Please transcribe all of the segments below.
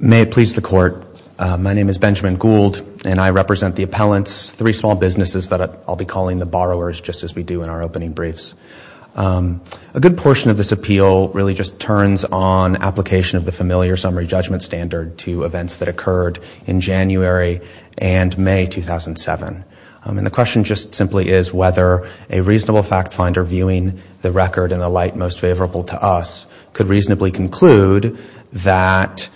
May it please the Court. My name is Benjamin Gould, and I represent the appellants, three small businesses that I'll be calling the borrowers, just as we do in our opening briefs. A good portion of this appeal really just turns on application of the familiar summary judgment standard to events that occurred in January and May 2007. And the question just simply is whether a reasonable fact finder viewing the record in the light most favorable to us could reasonably conclude that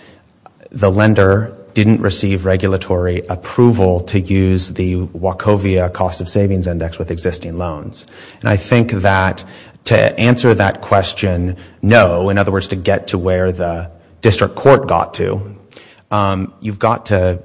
the lender didn't receive regulatory approval to use the Wachovia Cost of Savings Index with existing loans. I think that to answer that question, no, in other words, to get to where the district court got to, you've got to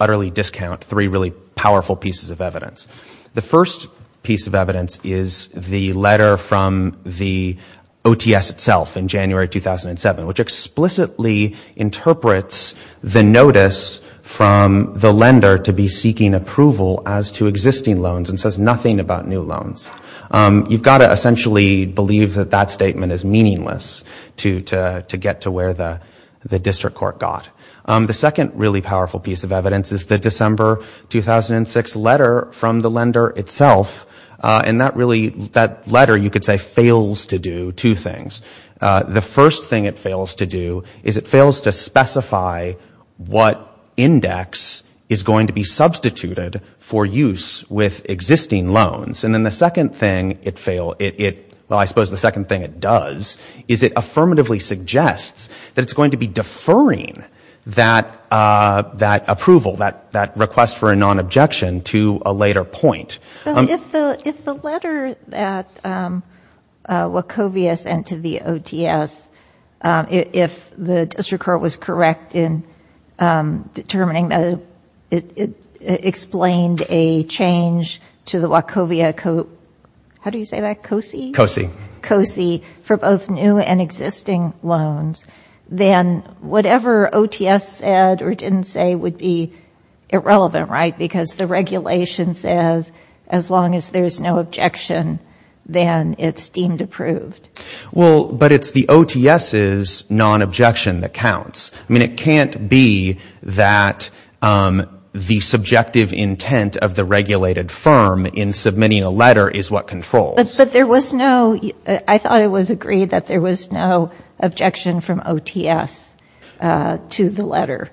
utterly discount three really powerful pieces of evidence. The first piece of evidence is the letter from the OTS itself in January 2007, which explicitly interprets the notice from the lender to be seeking approval as to existing loans and says nothing about new loans. You've got to essentially believe that that statement is meaningless to get to where the district court got. The second really powerful piece of evidence is the December 2006 letter from the lender itself, and that really, that letter you could say fails to do two things. The first thing it fails to do is it fails to specify what index is going to be substituted for use with existing loans. And then the second thing it fails, well, I suppose the second thing it does is it affirmatively suggests that it's going to be deferring that approval, that request for a non-objection to a later point. If the letter that Wachovia sent to the OTS, if the district court was correct in determining that it explained a change to the Wachovia, how do you say that, COSI? COSI. COSI, for both new and existing loans, then whatever OTS said or didn't say would be irrelevant, right? Because the regulation says as long as there's no objection, then it's deemed approved. Well, but it's the OTS's non-objection that counts. I mean, it can't be that the subjective intent of the regulated firm in submitting a letter is what controls. But there was no, I thought it was agreed that there was no objection from OTS to the letter.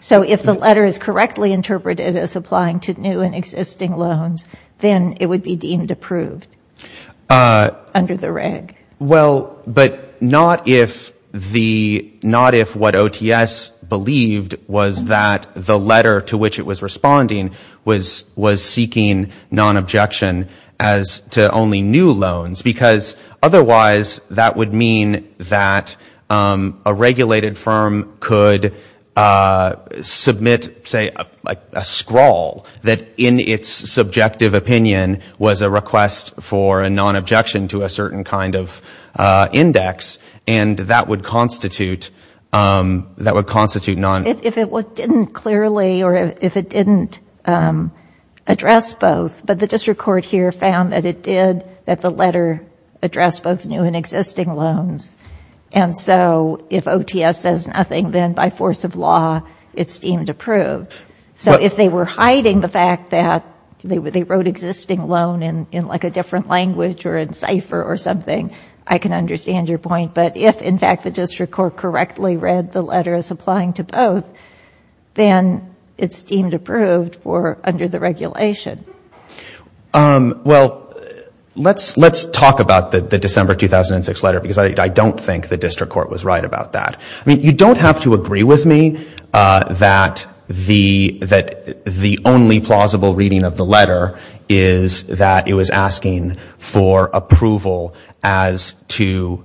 So if the letter is correctly interpreted as applying to new and existing loans, then it would be deemed approved under the reg. Well, but not if the, not if what OTS believed was that the letter to which it was responding was seeking non-objection as to only new loans, because otherwise that would mean that a regulated firm could submit, say, a scrawl that in its subjective opinion was a request for a non-objection to a certain kind of index, and that would constitute, that would constitute non-objection. If it didn't clearly or if it didn't address both, but the district court here found that it did, that the letter addressed both new and existing loans. And so if OTS says nothing, then by force of law, it's deemed approved. So if they were hiding the fact that they wrote existing loan in like a different language or in cipher or something, I can understand your point, but if, in fact, the district court correctly read the letter as applying to both, then it's deemed approved for under the regulation. Well, let's talk about the December 2006 letter, because I don't think the district court was right about that. I mean, you don't have to agree with me that the only plausible reading of the letter is that it was asking for approval as to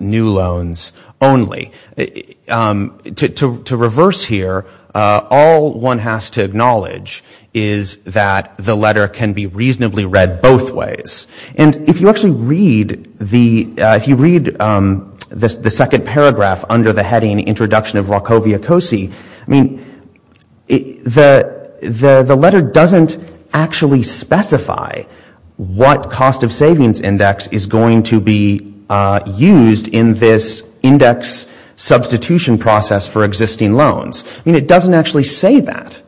new loans only. To reverse here, all one has to acknowledge is that the letter can be reasonably read both ways. And if you actually read the, if you read the second paragraph under the heading Introduction of New Loans, it doesn't actually specify what cost of savings index is going to be used in this index substitution process for existing loans. I mean, it doesn't actually say that.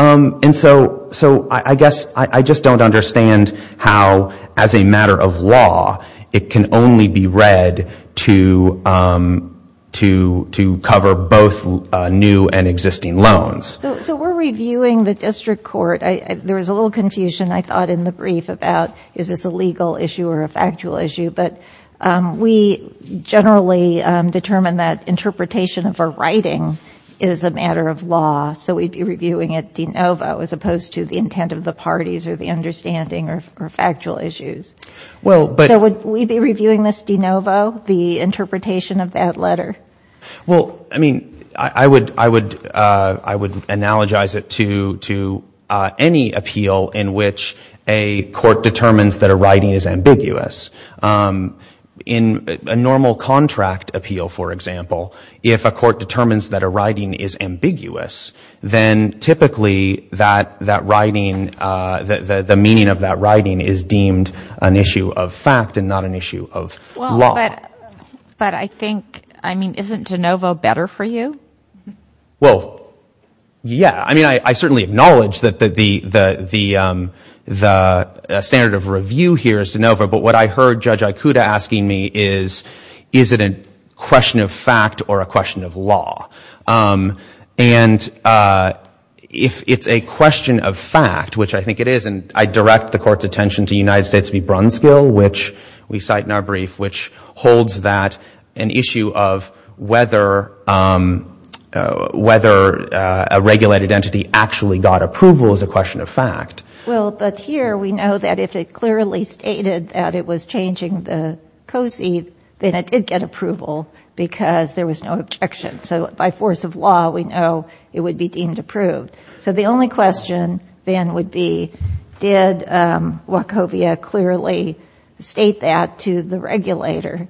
And so I guess I just don't understand how, as a matter of law, it can only be read to cover both new and existing loans. So we're reviewing the district court. There was a little confusion I thought in the brief about is this a legal issue or a factual issue, but we generally determine that interpretation of a writing is a matter of law, so we'd be reviewing it de novo as opposed to the intent of the parties or the understanding or factual issues. So would we be reviewing this de novo, the interpretation of that letter? Well, I mean, I would analogize it to any appeal in which a court determines that a writing is ambiguous. In a normal contract appeal, for example, if a court determines that a writing is ambiguous, then typically that writing, the meaning of that writing is deemed an issue of fact and not an issue of law. Well, but I think, I mean, isn't de novo better for you? Well, yeah. I mean, I certainly acknowledge that the standard of review here is de novo, but what I heard Judge Ikuta asking me is, is it a question of fact or a question of law? And if it's a question of fact, which I think it is, and I direct the court's attention to the United States v. Brunskill, which we cite in our brief, which holds that an issue of whether a regulated entity actually got approval is a question of fact. Well, but here we know that if it clearly stated that it was changing the COSI, then it did get approval because there was no objection. So by force of law, we know it would be deemed approved. So the only question then would be, did Wachovia clearly state that to the regulator?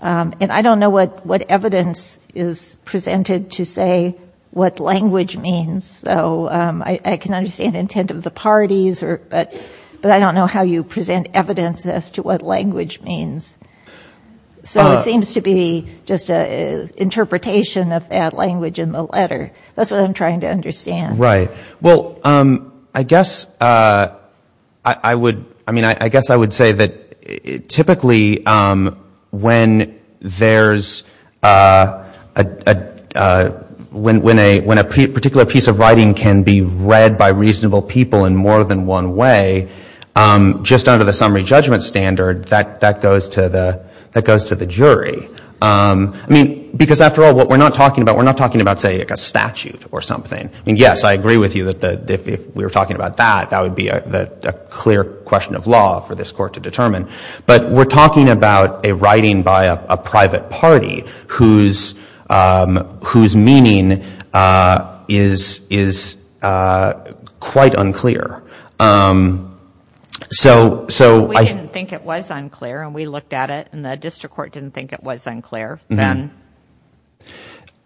And I don't know what evidence is presented to say what language means. So I can understand the intent of the parties, but I don't know how you present evidence as to what language means. So it seems to be just an interpretation of that language in the letter. That's what I'm trying to understand. Right. Well, I guess I would, I mean, I guess I would say that typically when there's, when a particular piece of writing can be read by reasonable people in more than one way, just under the summary judgment standard, that goes to the jury. I mean, because after all, what we're not talking about, we're not talking about, say, a statute or something. I mean, yes, I agree with you that if we were talking about that, that would be a clear question of law for this court to determine. But we're talking about a writing by a private party whose meaning is quite unclear. So I... Well, we didn't think it was unclear, and we looked at it, and the district court didn't think it was unclear.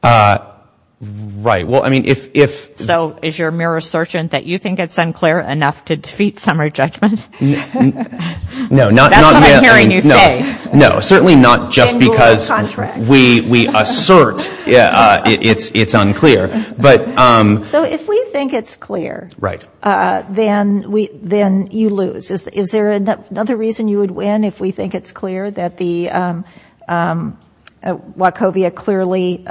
Right. Well, I mean, if... So is your mere assertion that you think it's unclear enough to defeat summary judgment? No, not... That's what I'm hearing you say. No, certainly not just because we assert it's unclear, but... So if we think it's clear, then you lose. Is there another reason you would win if we said Wachovia clearly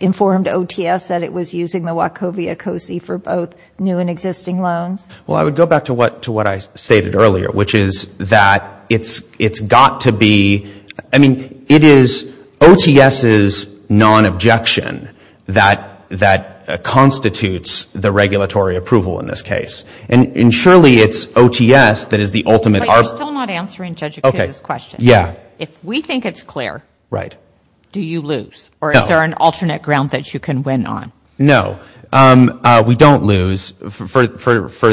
informed OTS that it was using the Wachovia COSI for both new and existing loans? Well, I would go back to what I stated earlier, which is that it's got to be, I mean, it is OTS's non-objection that constitutes the regulatory approval in this case. And surely it's OTS that is the ultimate... But you're still not answering Judge Akita's question. Okay. Yeah. If we think it's clear... Right. ...do you lose? No. Or is there an alternate ground that you can win on? No. We don't lose for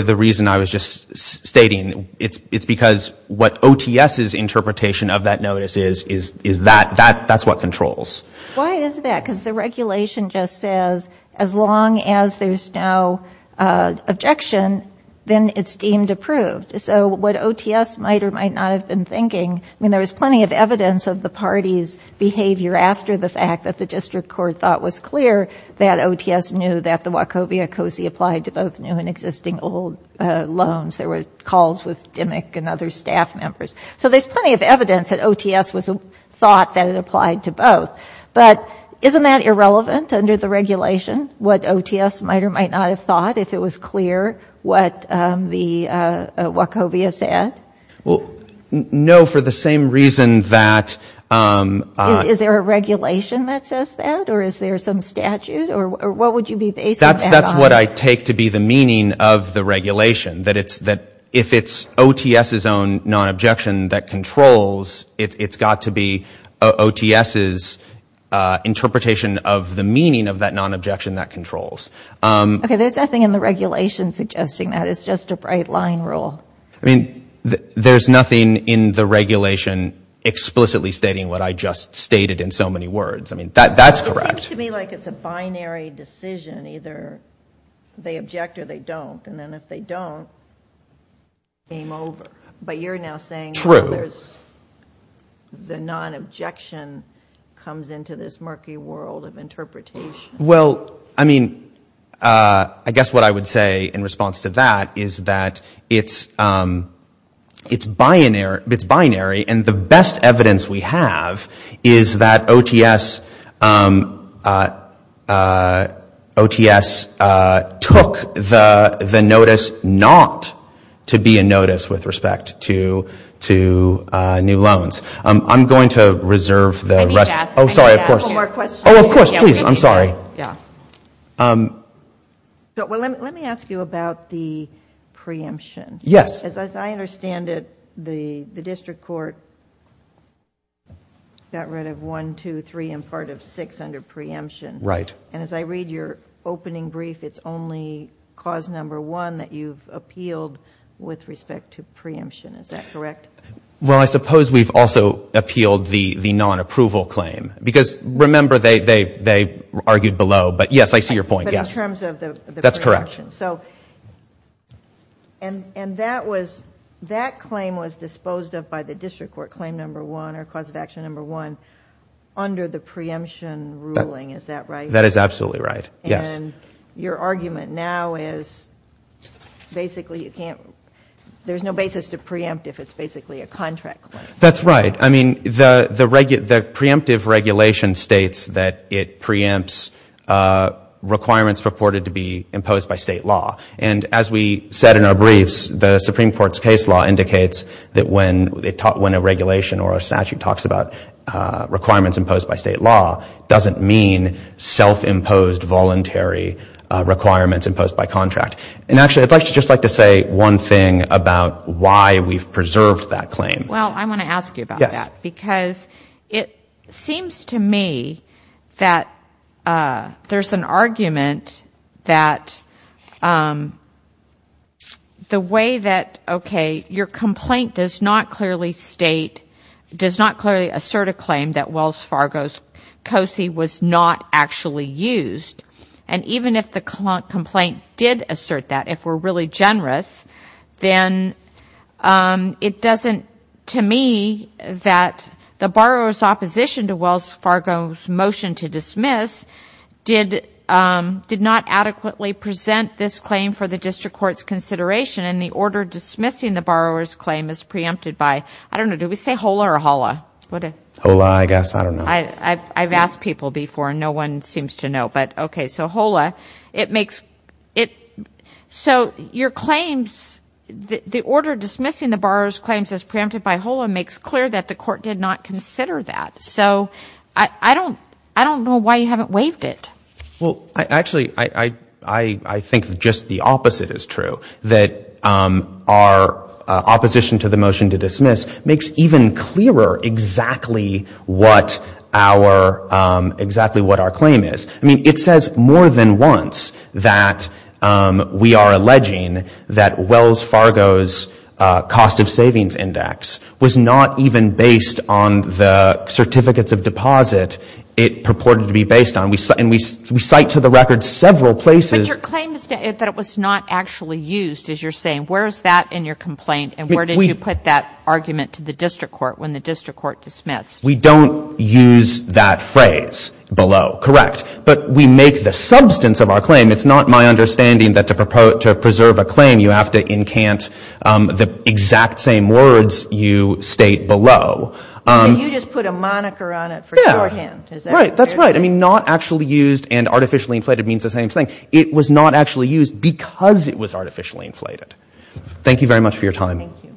the reason I was just stating. It's because what OTS's interpretation of that notice is, is that. That's what controls. Why is that? Because the regulation just says as long as there's no objection, then it's deemed approved. So what OTS might or might not have been thinking, I mean, there was plenty of evidence of the party's behavior after the fact that the district court thought was clear that OTS knew that the Wachovia COSI applied to both new and existing old loans. There were calls with Dimick and other staff members. So there's plenty of evidence that OTS thought that it applied to both. But isn't that irrelevant under the regulation? What OTS might or might not have thought if it was clear what the Wachovia said? Well, no, for the same reason that... Is there a regulation that says that? Or is there some statute? Or what would you be basing that on? That's what I take to be the meaning of the regulation. That if it's OTS's own non-objection that controls, it's got to be OTS's interpretation of the meaning of that non-objection that controls. Okay. There's nothing in the regulation suggesting that. It's just a bright line rule. I mean, there's nothing in the regulation explicitly stating what I just stated in so many words. I mean, that's correct. It seems to me like it's a binary decision. Either they object or they don't. And then if they don't, game over. But you're now saying... True. ...the non-objection comes into this murky world of interpretation. Well, I mean, I guess what I would say in response to that is that it's binary. And the best evidence we have is that OTS took the notice not to be a notice with respect to new loans. I'm going to reserve the rest... I need to ask... Oh, sorry, of course. ...one more question. Oh, of course, please. I'm sorry. Yeah. Well, let me ask you about the preemption. Yes. As I understand it, the district court got rid of 1, 2, 3, and part of 6 under preemption. Right. And as I read your opening brief, it's only clause number 1 that you've appealed with respect to preemption. Is that correct? Well, I suppose we've also appealed the non-approval claim. Because, remember, they argued below. But, yes, I see your point. Yes. But in terms of the... That's correct. ...preemption. And that claim was disposed of by the district court, claim number 1, or cause of action number 1, under the preemption ruling. Is that right? That is absolutely right. Yes. And your argument now is basically you can't... There's no basis to preempt if it's basically a contract claim. That's right. I mean, the preemptive regulation states that it preempts requirements reported to be imposed by state law. And as we said in our briefs, the Supreme Court's case law indicates that when a regulation or a statute talks about requirements imposed by state law, it doesn't mean self-imposed, voluntary requirements imposed by contract. And actually, I'd just like to say one thing about why we've preserved that claim. Well, I want to ask you about that. Yes. Because it seems to me that there's an argument that the way that, okay, your complaint does not clearly assert a claim that Wells Fargo's COSI was not actually used. And even if the complaint did assert that, if we're really generous, then it doesn't, to me, that the borrower's opposition to Wells Fargo's motion to dismiss did not adequately present this claim for the district court's consideration. And the order dismissing the borrower's claim is preempted by, I don't know, do we say HOLA or HOLA? HOLA, I guess. I don't know. I've asked people before, and no one seems to know. But, okay, so HOLA, it makes, so your claims, the order dismissing the borrower's claims as preempted by HOLA makes clear that the court did not consider that. So I don't know why you haven't waived it. Well, actually, I think just the opposite is true, that our opposition to the motion to dismiss makes even clearer exactly what our claim is. I mean, it says more than once that we are alleging that Wells Fargo's cost of savings index was not even based on the certificates of deposit it purported to be based on. And we cite to the record several places. But your claim that it was not actually used, as you're saying, where is that in your complaint? And where did you put that argument to the district court when the district court dismissed? We don't use that phrase below. Correct. But we make the substance of our claim. It's not my understanding that to preserve a claim, you have to incant the exact same words you state below. Yeah. Right. That's right. I mean, not actually used and artificially inflated means the same thing. It was not actually used because it was artificially inflated. Thank you very much for your time. Thank you.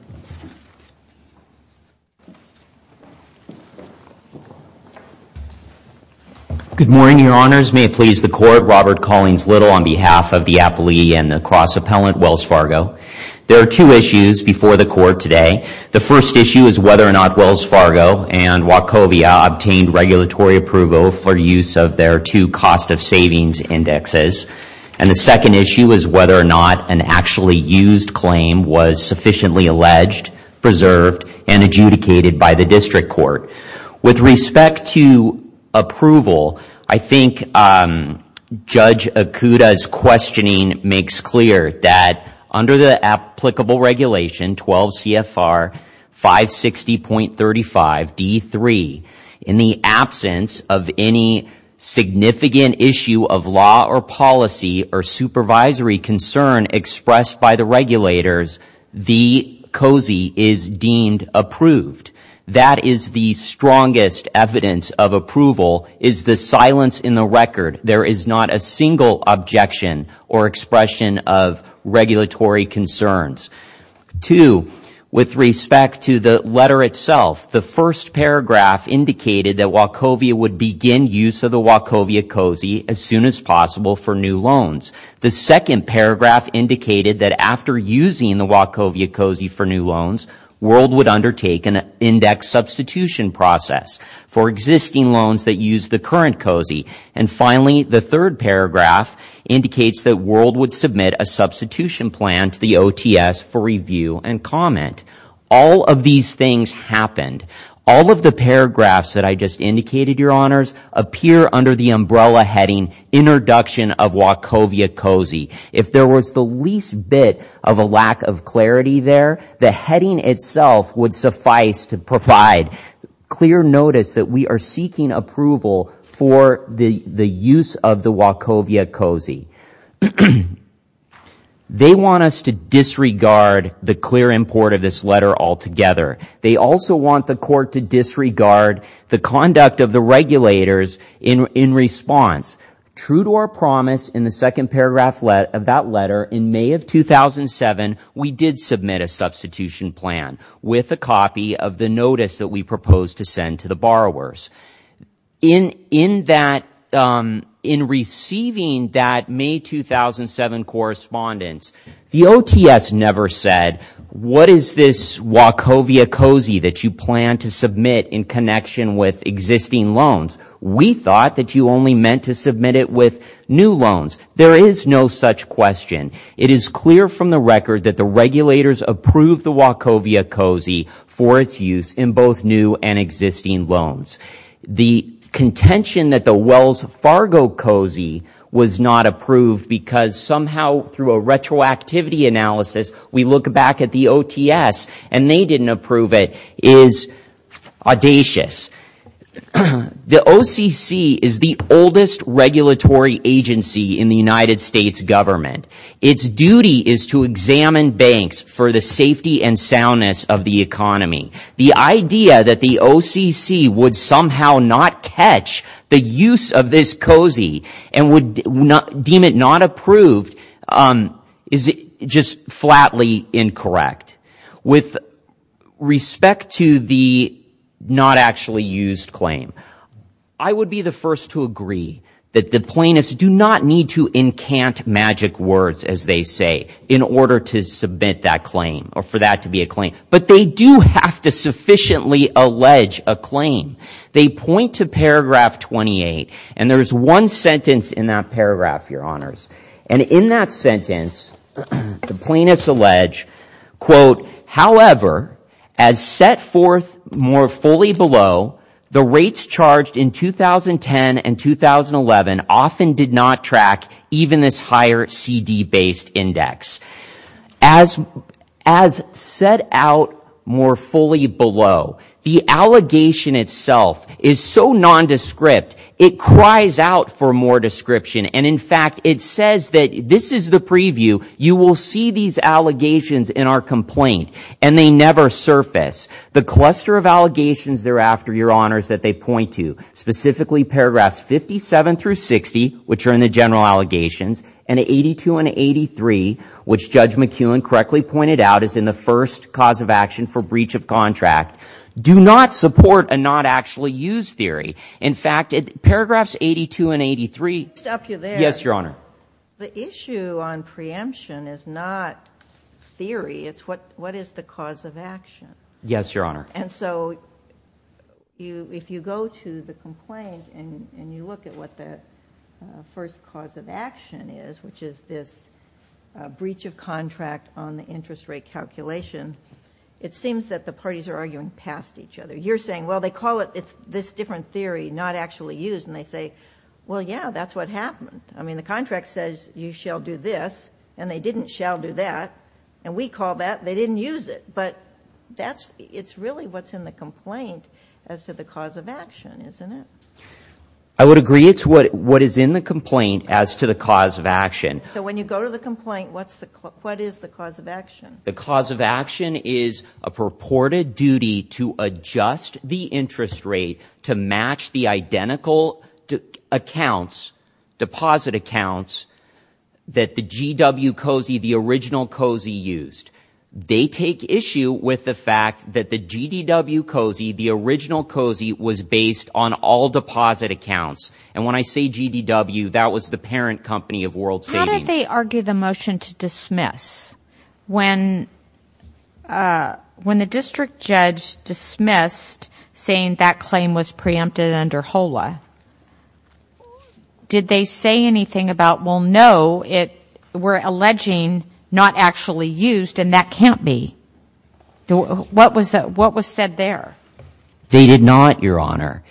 Good morning, Your Honors. May it please the Court. Robert Collins Little on behalf of the appellee and the cross-appellant, Wells Fargo. There are two issues before the Court today. The first issue is whether or not Wells Fargo and Wachovia obtained regulatory approval for use of their two cost of savings indexes. And the second issue is whether or not an actually used claim was sufficiently alleged, preserved, and adjudicated by the district court. With respect to approval, I think Judge Okuda's questioning makes clear that under the applicable regulation 12 CFR 560.35 D3, in the absence of any significant issue of law or policy or supervisory concern expressed by the regulators, the COSI is deemed approved. That is the strongest evidence of approval is the silence in the record. There is not a single objection or expression of regulatory concerns. Two, with respect to the letter itself, the first paragraph indicated that Wachovia would begin use of the Wachovia COSI as soon as possible for new loans. The second paragraph indicated that after using the Wachovia COSI for new loans, World would undertake an index substitution process for existing loans that use the current COSI. And finally, the third paragraph indicates that World would submit a substitution plan to the OTS for review and comment. All of these things happened. All of the paragraphs that I just indicated, Your Honors, appear under the umbrella heading introduction of Wachovia COSI. If there was the least bit of a lack of clarity there, the heading itself would suffice to provide clear notice that we are seeking approval for the use of the Wachovia COSI. They want us to disregard the clear import of this letter altogether. They also want the court to disregard the conduct of the regulators in response. True to our promise in the second paragraph of that letter, in May of 2007, we did submit a substitution plan with a copy of the notice that we proposed to send to the borrowers. In receiving that May 2007 correspondence, the OTS never said, what is this Wachovia COSI that you plan to submit in connection with existing loans? We thought that you only meant to submit it with new loans. There is no such question. It is clear from the record that the regulators approved the Wachovia COSI for its use in both new and existing loans. The contention that the Wells Fargo COSI was not approved because somehow through a retroactivity analysis we look back at the OTS and they didn't approve it is audacious. The OCC is the oldest regulatory agency in the United States government. Its duty is to examine banks for the safety and soundness of the economy. The idea that the OCC would somehow not catch the use of this COSI and would deem it not approved is just flatly incorrect. With respect to the not actually used claim, I would be the first to agree that the plaintiffs do not need to encant magic words, as they say, in order to submit that claim or for that to be a claim. But they do have to sufficiently allege a claim. They point to paragraph 28, and there is one sentence in that paragraph, your honors. And in that sentence, the plaintiffs allege, quote, however, as set forth more fully below, the rates charged in 2010 and 2011 often did not track even this higher CD-based index. As set out more fully below, the allegation itself is so nondescript, it cries out for more description. And in fact, it says that this is the preview. You will see these allegations in our complaint, and they never surface. The cluster of allegations thereafter, your honors, that they point to, specifically paragraphs 57 through 60, which are in the general allegations, and 82 and 83, which Judge McEwen correctly pointed out is in the first cause of action for breach of contract, do not support a not actually used theory. In fact, paragraphs 82 and 83 — Let me stop you there. Yes, your honor. The issue on preemption is not theory. It's what is the cause of action. Yes, your honor. And so if you go to the complaint and you look at what the first cause of action is, which is this breach of contract on the interest rate calculation, it seems that the parties are arguing past each other. You're saying, well, they call it this different theory, not actually used, and they say, well, yeah, that's what happened. I mean, the contract says you shall do this, and they didn't shall do that. And we call that — they didn't use it. But that's — it's really what's in the complaint as to the cause of action, isn't it? I would agree. It's what is in the complaint as to the cause of action. So when you go to the complaint, what is the cause of action? The cause of action is a purported duty to adjust the interest rate to match the identical accounts, deposit accounts, that the GW Cozy, the original Cozy, used. They take issue with the fact that the GDW Cozy, the original Cozy, was based on all deposit accounts. And when I say GDW, that was the parent company of World Savings. Why did they argue the motion to dismiss? When the district judge dismissed, saying that claim was preempted under HOLA, did they say anything about, well, no, we're alleging not actually used, and that can't be? What was said there? They did not, Your Honor.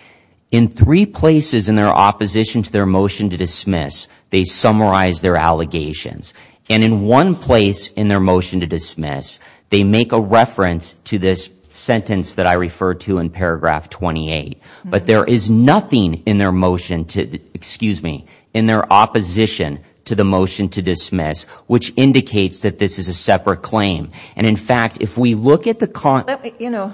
In three places in their opposition to their motion to dismiss, they summarize their allegations. And in one place in their motion to dismiss, they make a reference to this sentence that I referred to in paragraph 28. But there is nothing in their motion to — excuse me, in their opposition to the motion to dismiss which indicates that this is a separate claim. And, in fact, if we look at the — Well, you know,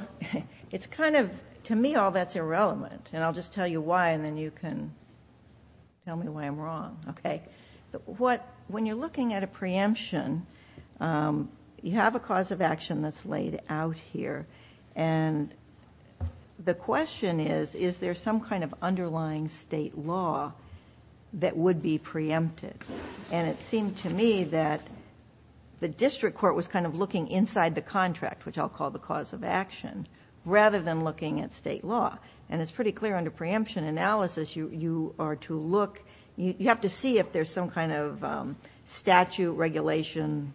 it's kind of — to me, all that's irrelevant. And I'll just tell you why, and then you can tell me why I'm wrong. Okay. What — when you're looking at a preemption, you have a cause of action that's laid out here. And the question is, is there some kind of underlying state law that would be preempted? And it seemed to me that the district court was kind of looking inside the contract, which I'll call the cause of action, rather than looking at state law. And it's pretty clear under preemption analysis, you are to look — you have to see if there's some kind of statute, regulation,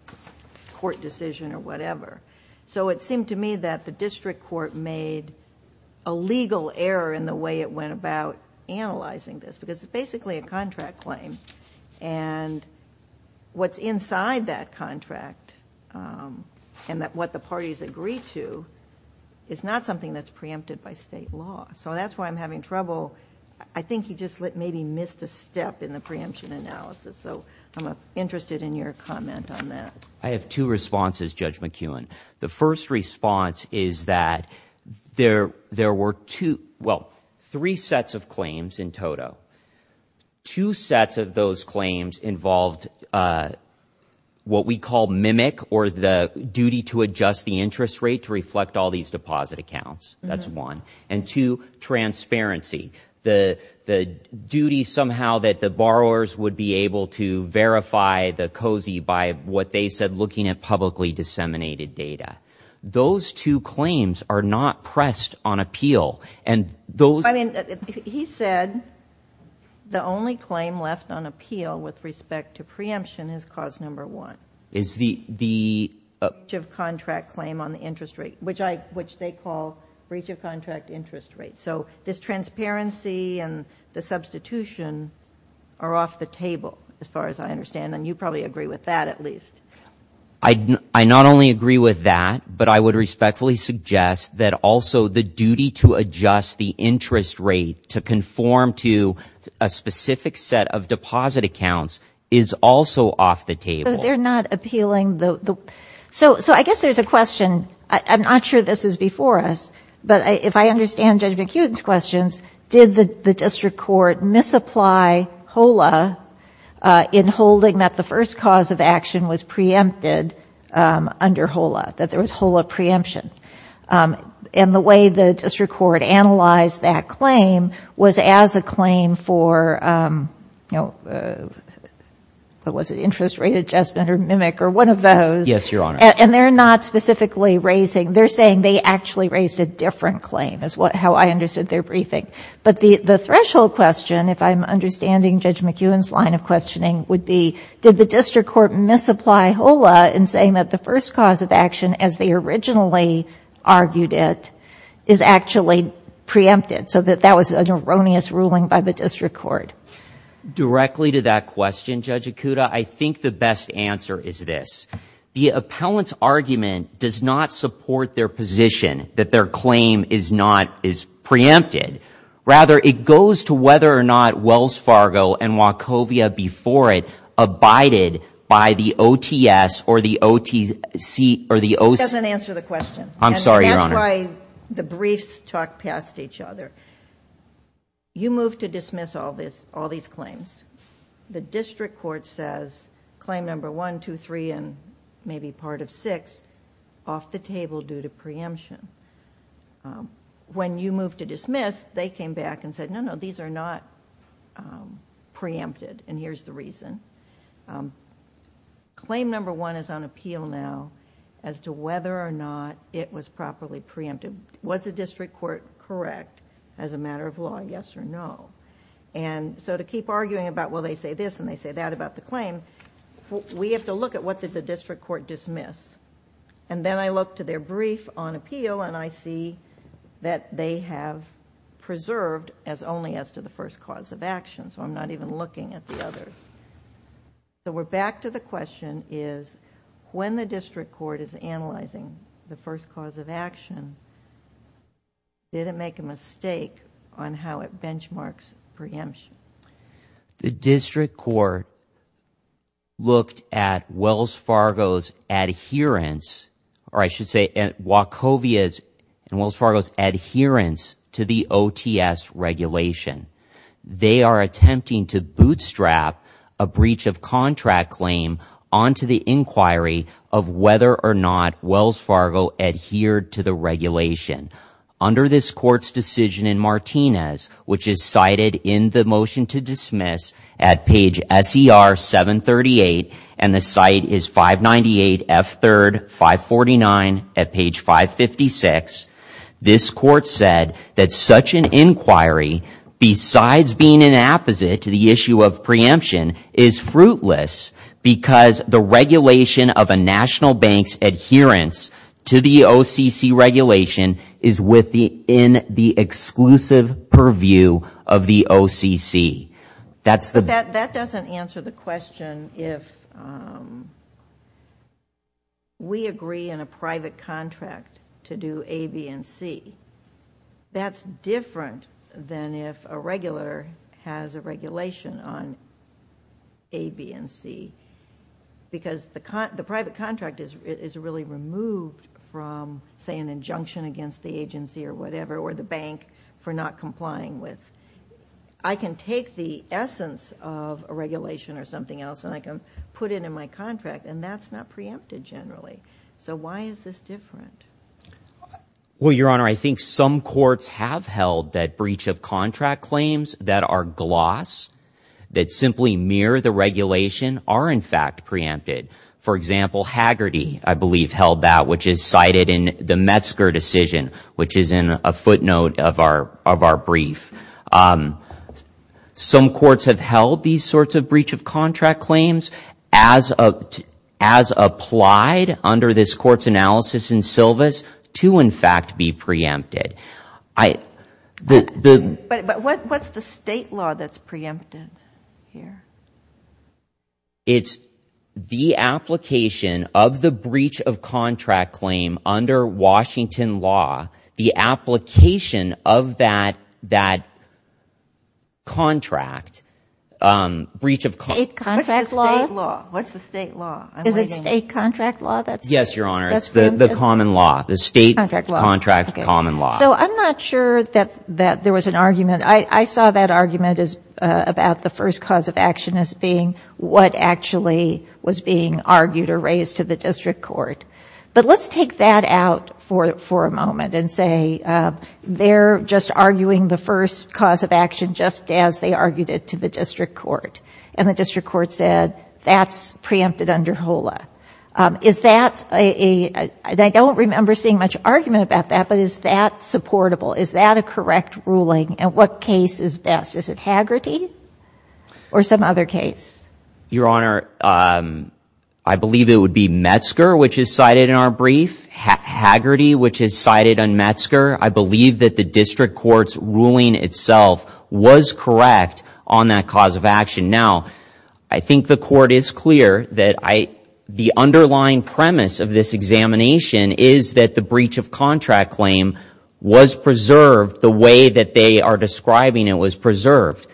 court decision or whatever. So it seemed to me that the district court made a legal error in the way it went about analyzing this, because it's basically a contract claim. And what's inside that contract and what the parties agree to is not something that's preempted by state law. So that's why I'm having trouble. I think he just maybe missed a step in the preemption analysis. So I'm interested in your comment on that. I have two responses, Judge McKeown. The first response is that there were two — well, three sets of claims in total. Two sets of those claims involved what we call mimic, or the duty to adjust the interest rate to reflect all these deposit accounts. That's one. And two, transparency. The duty somehow that the borrowers would be able to verify the COSI by what they said looking at publicly disseminated data. Those two claims are not pressed on appeal. And those — I mean, he said the only claim left on appeal with respect to preemption is cause number one. Is the — The breach of contract claim on the interest rate, which they call breach of contract interest rate. So this transparency and the substitution are off the table as far as I understand. And you probably agree with that at least. I not only agree with that, but I would respectfully suggest that also the duty to adjust the interest rate to conform to a specific set of deposit accounts is also off the table. But they're not appealing the — so I guess there's a question. I'm not sure this is before us. But if I understand Judge McKeown's questions, did the district court misapply HOLA in holding that the first cause of action was preempted under HOLA, that there was HOLA preemption? And the way the district court analyzed that claim was as a claim for, you know, what was it, interest rate adjustment or mimic or one of those. Yes, Your Honor. And they're not specifically raising — they're saying they actually raised a different claim is how I understood their briefing. But the threshold question, if I'm understanding Judge McKeown's line of questioning, would be did the district court misapply HOLA in saying that the first cause of action, as they originally argued it, is actually preempted, so that that was an erroneous ruling by the district court? Directly to that question, Judge Akuta, I think the best answer is this. The appellant's argument does not support their position that their claim is not — is preempted. Rather, it goes to whether or not Wells Fargo and Wachovia before it abided by the OTS or the OTC — It doesn't answer the question. I'm sorry, Your Honor. And that's why the briefs talk past each other. You move to dismiss all these claims. The district court says claim number one, two, three, and maybe part of six off the table due to preemption. When you move to dismiss, they came back and said, no, no, these are not preempted, and here's the reason. Claim number one is on appeal now as to whether or not it was properly preempted. Was the district court correct as a matter of law, yes or no? And so to keep arguing about, well, they say this and they say that about the claim, we have to look at what did the district court dismiss. And then I look to their brief on appeal and I see that they have preserved as only as to the first cause of action. So I'm not even looking at the others. So we're back to the question is when the district court is analyzing the first cause of action, did it make a mistake on how it benchmarks preemption? The district court looked at Wells Fargo's adherence, or I should say Wachovia's and Wells Fargo's adherence to the OTS regulation. They are attempting to bootstrap a breach of contract claim onto the inquiry of whether or not Wells Fargo adhered to the regulation. Under this court's decision in Martinez, which is cited in the motion to dismiss at page SER 738, and the site is 598 F3rd 549 at page 556, this court said that such an inquiry, besides being an apposite to the issue of preemption, is fruitless because the regulation of a national bank's adherence to the OCC regulation is within the exclusive purview of the OCC. That doesn't answer the question if we agree in a private contract to do A, B, and C. That's different than if a regular has a regulation on A, B, and C because the private contract is really removed from, say, an injunction against the agency or whatever, or the bank for not complying with. I can take the essence of a regulation or something else, and I can put it in my contract, and that's not preempted generally, so why is this different? Well, Your Honor, I think some courts have held that breach of contract claims that are gloss, that simply mirror the regulation, are in fact preempted. For example, Hagerty, I believe, held that, which is cited in the Metzger decision, which is in a footnote of our brief. Some courts have held these sorts of breach of contract claims as applied under this court's analysis in Sylvis to, in fact, be preempted. But what's the state law that's preempted here? It's the application of the breach of contract claim under Washington law, the application of that contract, breach of contract. State contract law? What's the state law? Is it state contract law? Yes, Your Honor, it's the common law, the state contract common law. So I'm not sure that there was an argument. I saw that argument as about the first cause of action as being what actually was being argued or raised to the district court. But let's take that out for a moment and say they're just arguing the first cause of action just as they argued it to the district court, and the district court said that's preempted under HOLA. Is that a, and I don't remember seeing much argument about that, but is that supportable? Is that a correct ruling? And what case is best? Is it Hagerty or some other case? Your Honor, I believe it would be Metzger, which is cited in our brief, Hagerty, which is cited on Metzger. I believe that the district court's ruling itself was correct on that cause of action. Now, I think the court is clear that the underlying premise of this examination is that the breach of contract claim was preserved the way that they are describing it was preserved.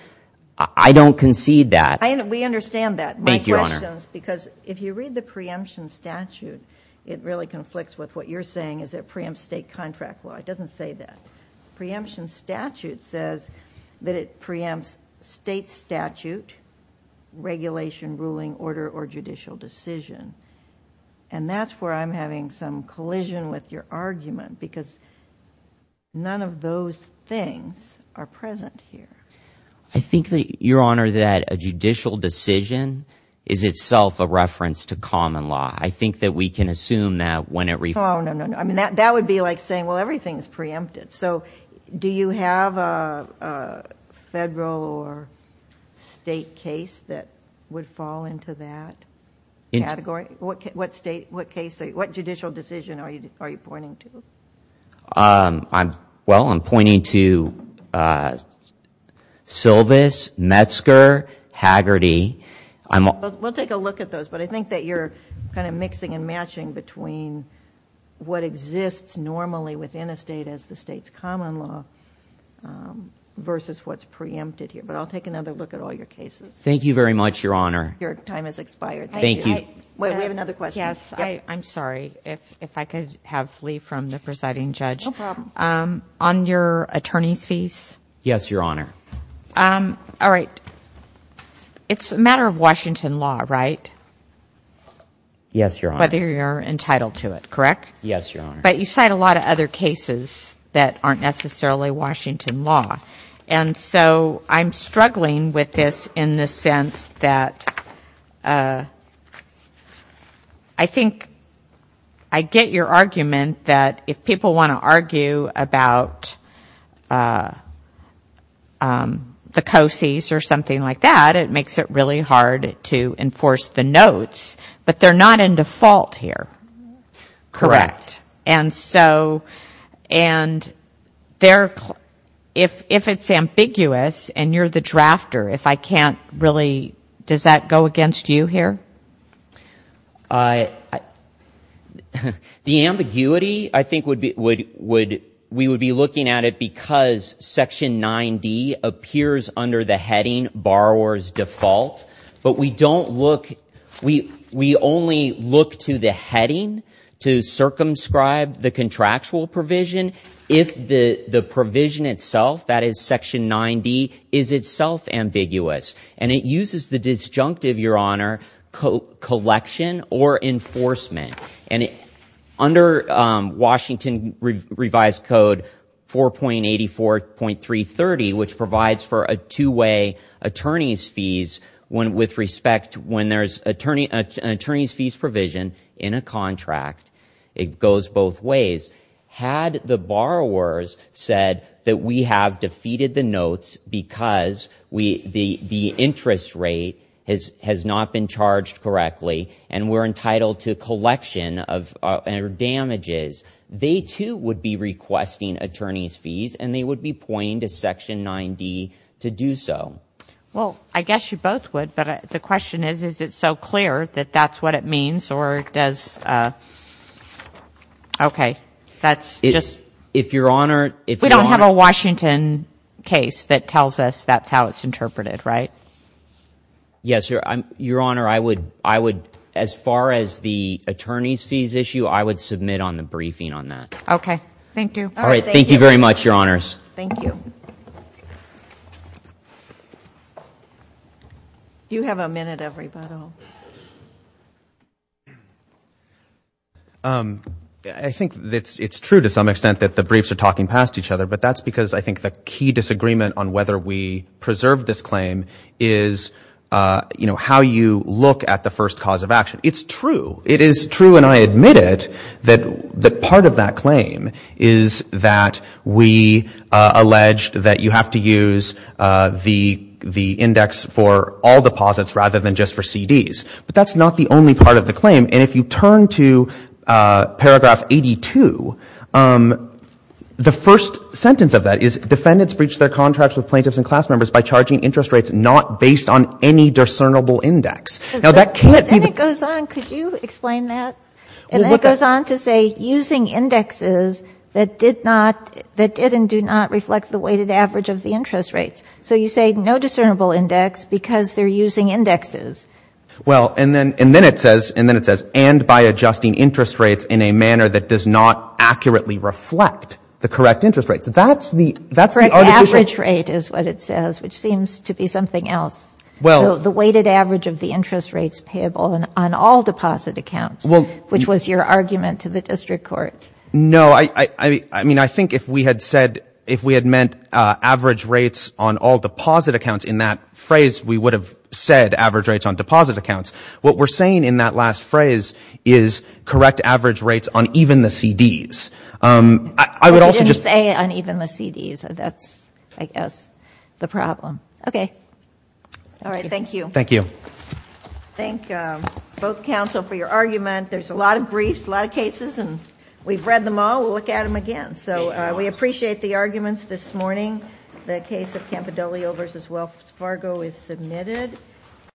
I don't concede that. We understand that. Thank you, Your Honor. My question is because if you read the preemption statute, it really conflicts with what you're saying is it preempts state contract law. It doesn't say that. Preemption statute says that it preempts state statute, regulation, ruling, order, or judicial decision. And that's where I'm having some collision with your argument because none of those things are present here. I think that, Your Honor, that a judicial decision is itself a reference to common law. I think that we can assume that when it re- Oh, no, no, no. That would be like saying, well, everything is preempted. So do you have a federal or state case that would fall into that category? What judicial decision are you pointing to? Well, I'm pointing to Silvis, Metzger, Haggerty. We'll take a look at those, but I think that you're kind of mixing and matching between what exists normally within a state as the state's common law versus what's preempted here. But I'll take another look at all your cases. Thank you very much, Your Honor. Your time has expired. Thank you. Wait, we have another question. Yes. I'm sorry. If I could have leave from the presiding judge. No problem. On your attorney's fees? Yes, Your Honor. All right. It's a matter of Washington law, right? Yes, Your Honor. Whether you're entitled to it, correct? Yes, Your Honor. But you cite a lot of other cases that aren't necessarily Washington law. And so I'm struggling with this in the sense that I think I get your argument that if people want to argue about the COCES or something like that, it makes it really hard to enforce the notes. But they're not in default here, correct? Correct. And so if it's ambiguous and you're the drafter, if I can't really ‑‑ does that go against you here? The ambiguity I think we would be looking at it because section 9D appears under the heading borrower's default. But we don't look ‑‑ we only look to the heading to circumscribe the contractual provision if the provision itself, that is section 9D, is itself ambiguous. And it uses the disjunctive, Your Honor, collection or enforcement. And under Washington revised code 4.84.330, which provides for a two‑way attorney's fees with respect to when there's an attorney's fees provision in a contract, it goes both ways. Had the borrowers said that we have defeated the notes because the interest rate has not been charged correctly and we're entitled to collection of damages, they too would be requesting attorney's fees and they would be pointing to section 9D to do so. Well, I guess you both would. But the question is, is it so clear that that's what it means or does ‑‑ Okay. That's just ‑‑ If Your Honor ‑‑ We don't have a Washington case that tells us that's how it's interpreted, right? Yes, Your Honor, I would, as far as the attorney's fees issue, I would submit on the briefing on that. Okay. Thank you. All right. Thank you very much, Your Honors. Thank you. You have a minute, everybody. I think it's true to some extent that the briefs are talking past each other, but that's because I think the key disagreement on whether we preserve this claim is, you know, how you look at the first cause of action. It's true. It is true, and I admit it, that part of that claim is that we alleged that you have to use the index for all deposits rather than just for CDs. But that's not the only part of the claim. And if you turn to paragraph 82, the first sentence of that is, defendants breach their contracts with plaintiffs and class members by charging interest rates not based on any discernible index. Now, that can't be the ‑‑ Then it goes on. Could you explain that? And then it goes on to say using indexes that did not, that did and do not reflect the weighted average of the interest rates. So you say no discernible index because they're using indexes. Well, and then it says, and by adjusting interest rates in a manner that does not accurately reflect the correct interest rates. That's the ‑‑ Correct average rate is what it says, which seems to be something else. So the weighted average of the interest rates payable on all deposit accounts, which was your argument to the district court. No, I mean, I think if we had said, if we had meant average rates on all deposit accounts in that phrase, we would have said average rates on deposit accounts. What we're saying in that last phrase is correct average rates on even the CDs. I would also just ‑‑ You didn't say on even the CDs. That's, I guess, the problem. Okay. All right. Thank you. Thank you. Thank both counsel for your argument. There's a lot of briefs, a lot of cases, and we've read them all. We'll look at them again. So we appreciate the arguments this morning. The case of Campidoglio v. Wells Fargo is submitted.